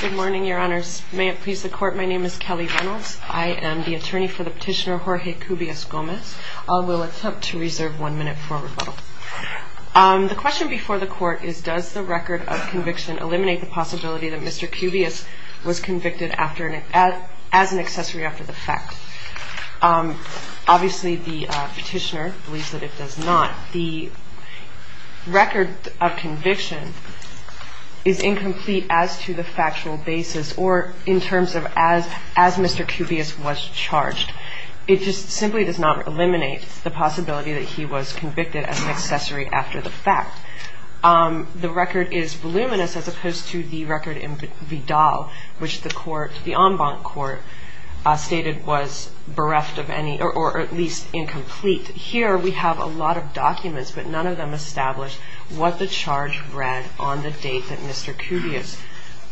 Good morning, your honors. May it please the court, my name is Kelly Reynolds. I am the attorney for the petitioner Jorge Cubias-Gomez. I will attempt to reserve one minute for rebuttal. The question before the court is does the record of conviction eliminate the possibility that Mr. Cubias was convicted as an accessory after the fact? Obviously the petitioner believes that it does not. The record of conviction is incomplete as to the factual basis or in terms of as Mr. Cubias was charged. It just simply does not eliminate the possibility that he was convicted as an accessory after the fact. The record is voluminous as opposed to the record in Vidal, which the court, the en banc court, stated was bereft of any, or at least incomplete. Here we have a lot of documents, but none of them establish what the charge read on the date that Mr. Cubias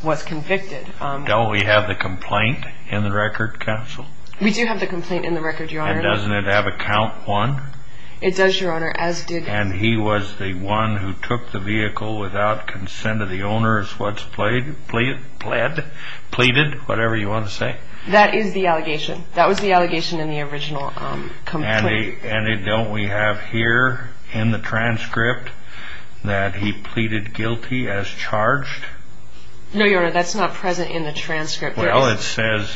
was convicted. Do we have the complaint in the record, counsel? We do have the complaint in the record, your honor. And doesn't it have a count one? It does, your honor. And he was the one who took the vehicle without consent of the owners, what's pleaded, whatever you want to say? That is the allegation. That was the allegation in the original complaint. And don't we have here in the transcript that he pleaded guilty as charged? No, your honor, that's not present in the transcript. Well, it says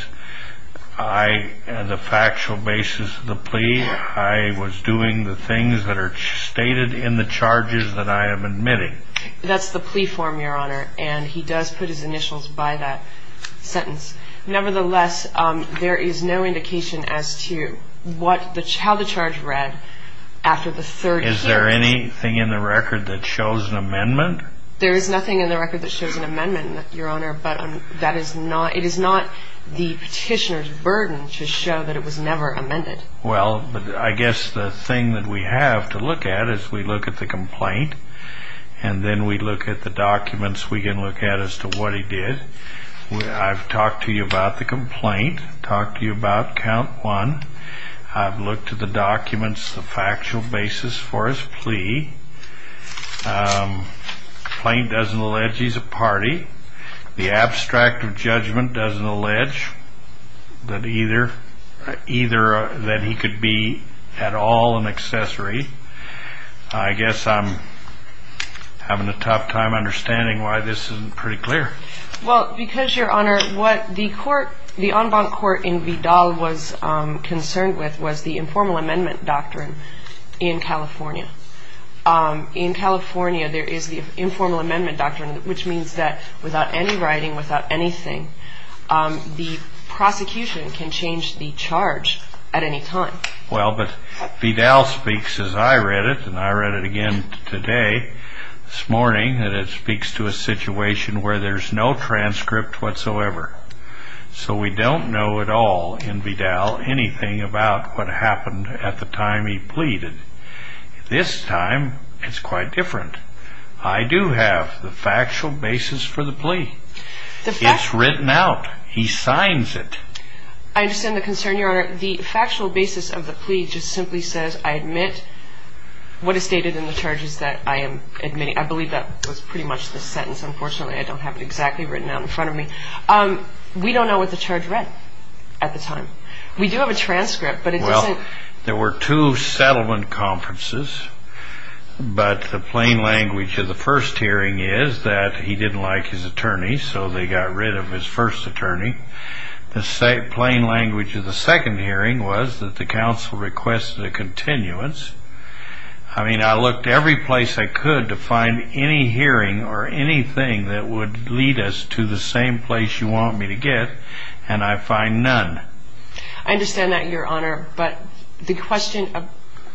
the factual basis of the plea, I was doing the things that are stated in the charges that I am admitting. That's the plea form, your honor, and he does put his initials by that sentence. Nevertheless, there is no indication as to how the charge read after the third hearing. Is there anything in the record that shows an amendment? There is nothing in the record that shows an amendment, your honor, but that is not the petitioner's burden to show that it was never amended. Well, I guess the thing that we have to look at is we look at the complaint and then we look at the documents we can look at as to what he did. I've talked to you about the complaint, talked to you about count one. I've looked at the documents, the factual basis for his plea. The complaint doesn't allege he's a party. The abstract of judgment doesn't allege that either that he could be at all an accessory. I guess I'm having a tough time understanding why this isn't pretty clear. Well, because, your honor, what the court, the en banc court in Vidal was concerned with was the informal amendment doctrine in California. In California, there is the informal amendment doctrine, which means that without any writing, without anything, the prosecution can change the charge at any time. Well, but Vidal speaks as I read it, and I read it again today, this morning, that it speaks to a situation where there's no transcript whatsoever. So we don't know at all in Vidal anything about what happened at the time he pleaded. This time, it's quite different. I do have the factual basis for the plea. It's written out. He signs it. I understand the concern, your honor. The factual basis of the plea just simply says I admit what is stated in the charges that I am admitting. I believe that was pretty much the sentence. Unfortunately, I don't have it exactly written out in front of me. We don't know what the charge read at the time. We do have a transcript, but it doesn't. There were two settlement conferences, but the plain language of the first hearing is that he didn't like his attorney, so they got rid of his first attorney. The plain language of the second hearing was that the counsel requested a continuance. I mean, I looked every place I could to find any hearing or anything that would lead us to the same place you want me to get, and I find none. I understand that, your honor, but the question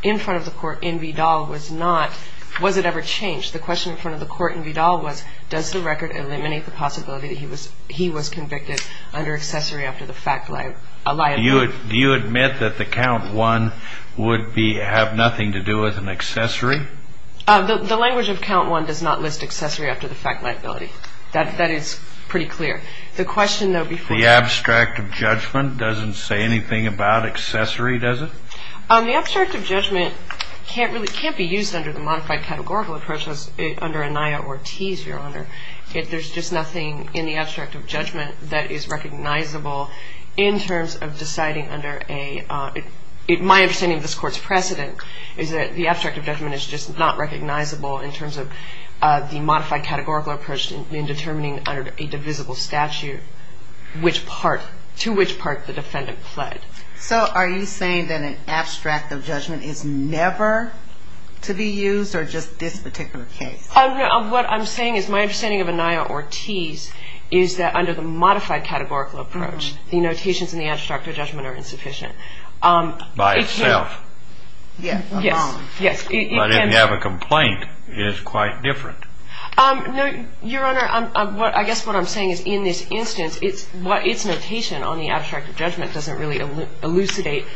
in front of the court in Vidal was not was it ever changed. The question in front of the court in Vidal was does the record eliminate the possibility that he was convicted under accessory after the fact liability. Do you admit that the count one would have nothing to do with an accessory? The language of count one does not list accessory after the fact liability. That is pretty clear. The question, though, before you. The abstract of judgment doesn't say anything about accessory, does it? The abstract of judgment can't be used under the modified categorical approach as under Anaya or Tease, your honor. There's just nothing in the abstract of judgment that is recognizable in terms of deciding under a my understanding of this court's precedent is that the abstract of judgment is just not recognizable in terms of the modified categorical approach in determining under a divisible statute to which part the defendant pled. So are you saying that an abstract of judgment is never to be used or just this particular case? What I'm saying is my understanding of Anaya or Tease is that under the modified categorical approach, the notations in the abstract of judgment are insufficient. By itself. Yes. Yes. But if you have a complaint, it is quite different. Your honor, I guess what I'm saying is in this instance, it's what its notation on the abstract of judgment doesn't really elucidate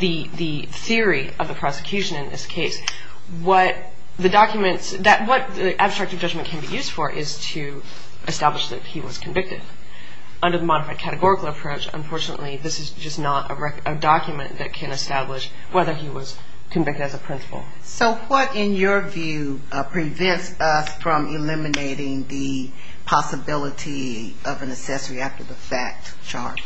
the theory of the prosecution in this case. What the documents that what the abstract of judgment can be used for is to establish that he was convicted under the modified categorical approach. Unfortunately, this is just not a document that can establish whether he was convicted as a principal. So what, in your view, prevents us from eliminating the possibility of an accessory after the fact charge?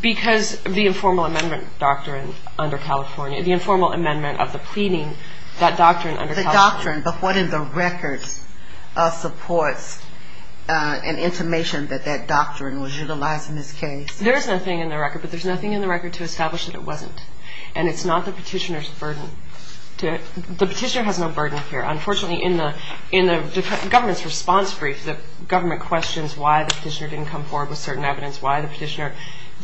Because the informal amendment doctrine under California, the informal amendment of the pleading, that doctrine under California. The doctrine. But what in the records supports an intimation that that doctrine was utilized in this case? There is nothing in the record. But there's nothing in the record to establish that it wasn't. And it's not the petitioner's burden. The petitioner has no burden here. Unfortunately, in the government's response brief, the government questions why the petitioner didn't come forward with certain evidence, why the petitioner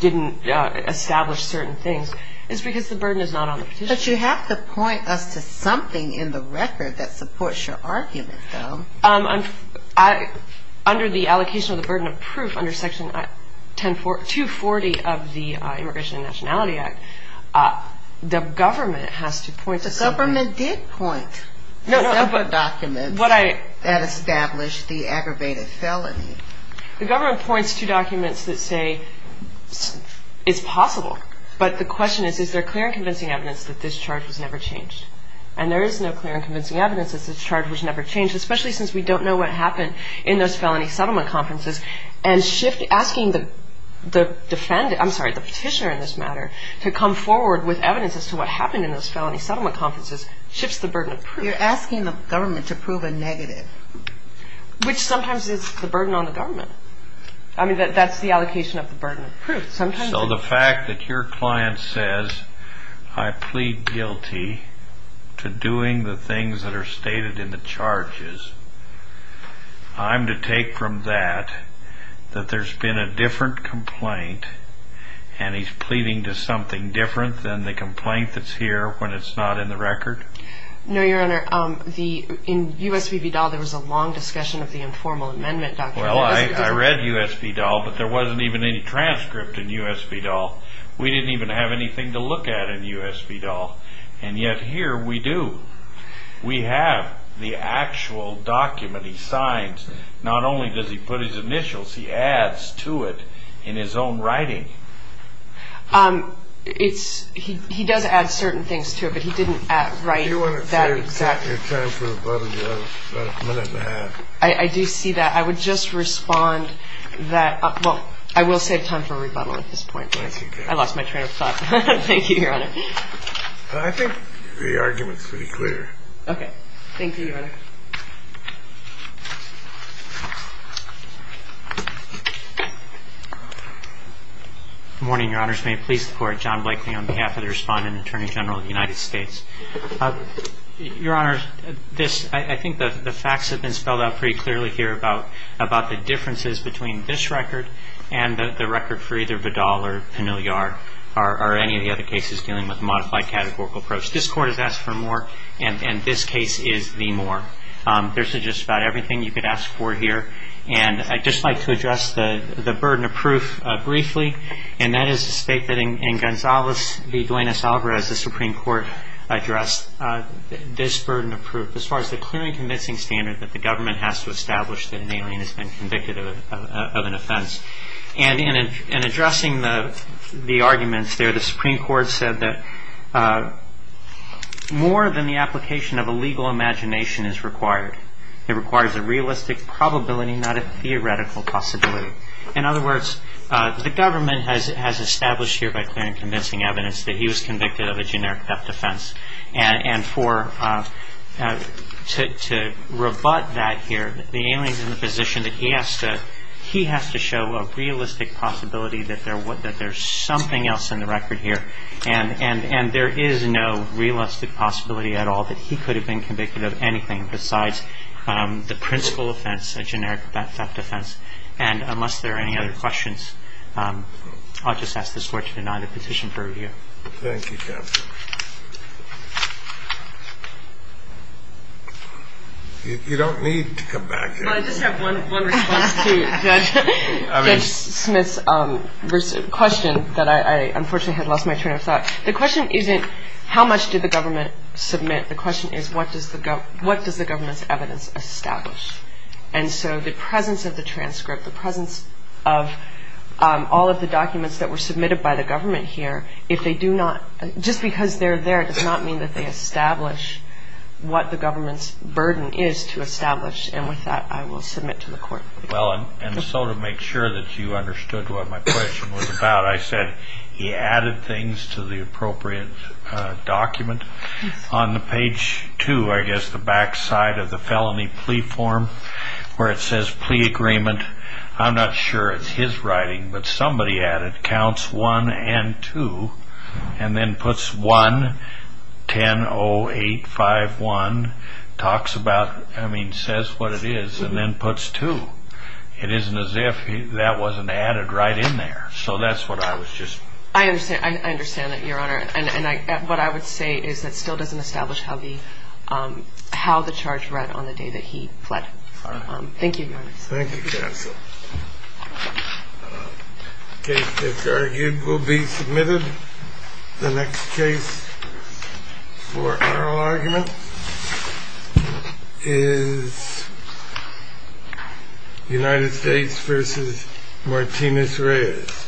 didn't establish certain things. It's because the burden is not on the petitioner. But you have to point us to something in the record that supports your argument, though. Under the allocation of the burden of proof under Section 240 of the Immigration and Nationality Act, the government has to point to something. The government did point to several documents that established the aggravated felony. The government points to documents that say it's possible. But the question is, is there clear and convincing evidence that this charge was never changed? And there is no clear and convincing evidence that this charge was never changed, especially since we don't know what happened in those felony settlement conferences. And asking the petitioner in this matter to come forward with evidence as to what happened in those felony settlement conferences shifts the burden of proof. You're asking the government to prove a negative. Which sometimes is the burden on the government. I mean, that's the allocation of the burden of proof. So the fact that your client says, I plead guilty to doing the things that are stated in the charges, I'm to take from that that there's been a different complaint, and he's pleading to something different than the complaint that's here when it's not in the record? No, Your Honor. In U.S. v. Vidal, there was a long discussion of the informal amendment document. Well, I read U.S. v. Vidal, but there wasn't even any transcript in U.S. v. Vidal. We didn't even have anything to look at in U.S. v. Vidal. And yet here we do. We have the actual document he signs. Not only does he put his initials, he adds to it in his own writing. He does add certain things to it, but he didn't write that exactly. Your time is about a minute and a half. I do see that. I would just respond that, well, I will save time for rebuttal at this point. I lost my train of thought. Thank you, Your Honor. I think the argument is pretty clear. Okay. Thank you, Your Honor. Good morning, Your Honors. May it please the Court. John Blakely on behalf of the Respondent Attorney General of the United States. Your Honor, I think the facts have been spelled out pretty clearly here about the differences between this record and the record for either Vidal or Panigliar or any of the other cases dealing with a modified categorical approach. This Court has asked for more, and this case is the more. There's just about everything you could ask for here. And I'd just like to address the burden of proof briefly, and that is to state that in Gonzales v. Duenas-Alvarez, the Supreme Court addressed this burden of proof as far as the clear and convincing standard that the government has to establish that an alien has been convicted of an offense. And in addressing the arguments there, the Supreme Court said that more than the application of a legal imagination is required. It requires a realistic probability, not a theoretical possibility. In other words, the government has established here by clear and convincing evidence that he was convicted of a generic theft offense. And to rebut that here, the alien is in the position that he has to show a realistic possibility that there's something else in the record here. And there is no realistic possibility at all that he could have been convicted of anything besides the principal offense, a generic theft offense. And unless there are any other questions, I'll just ask this Court to deny the petition for review. Thank you, Captain. You don't need to come back here. Well, I just have one response to Judge Smith's question that I unfortunately had lost my train of thought. The question isn't how much did the government submit. The question is what does the government's evidence establish. And so the presence of the transcript, the presence of all of the documents that were submitted by the government here, if they do not, just because they're there does not mean that they establish what the government's burden is to establish. And with that, I will submit to the Court. Well, and so to make sure that you understood what my question was about, I said he added things to the appropriate document. On the page 2, I guess, the back side of the felony plea form where it says plea agreement, I'm not sure it's his writing, but somebody added counts 1 and 2 and then puts 1-10-0-8-5-1, talks about, I mean, says what it is, and then puts 2. It isn't as if that wasn't added right in there. So that's what I was just... I understand. I understand that, Your Honor. And what I would say is that still doesn't establish how the charge read on the day that he fled. Thank you, Your Honor. Thank you, counsel. The case that's argued will be submitted. The next case for oral argument is United States v. Martinez Reyes.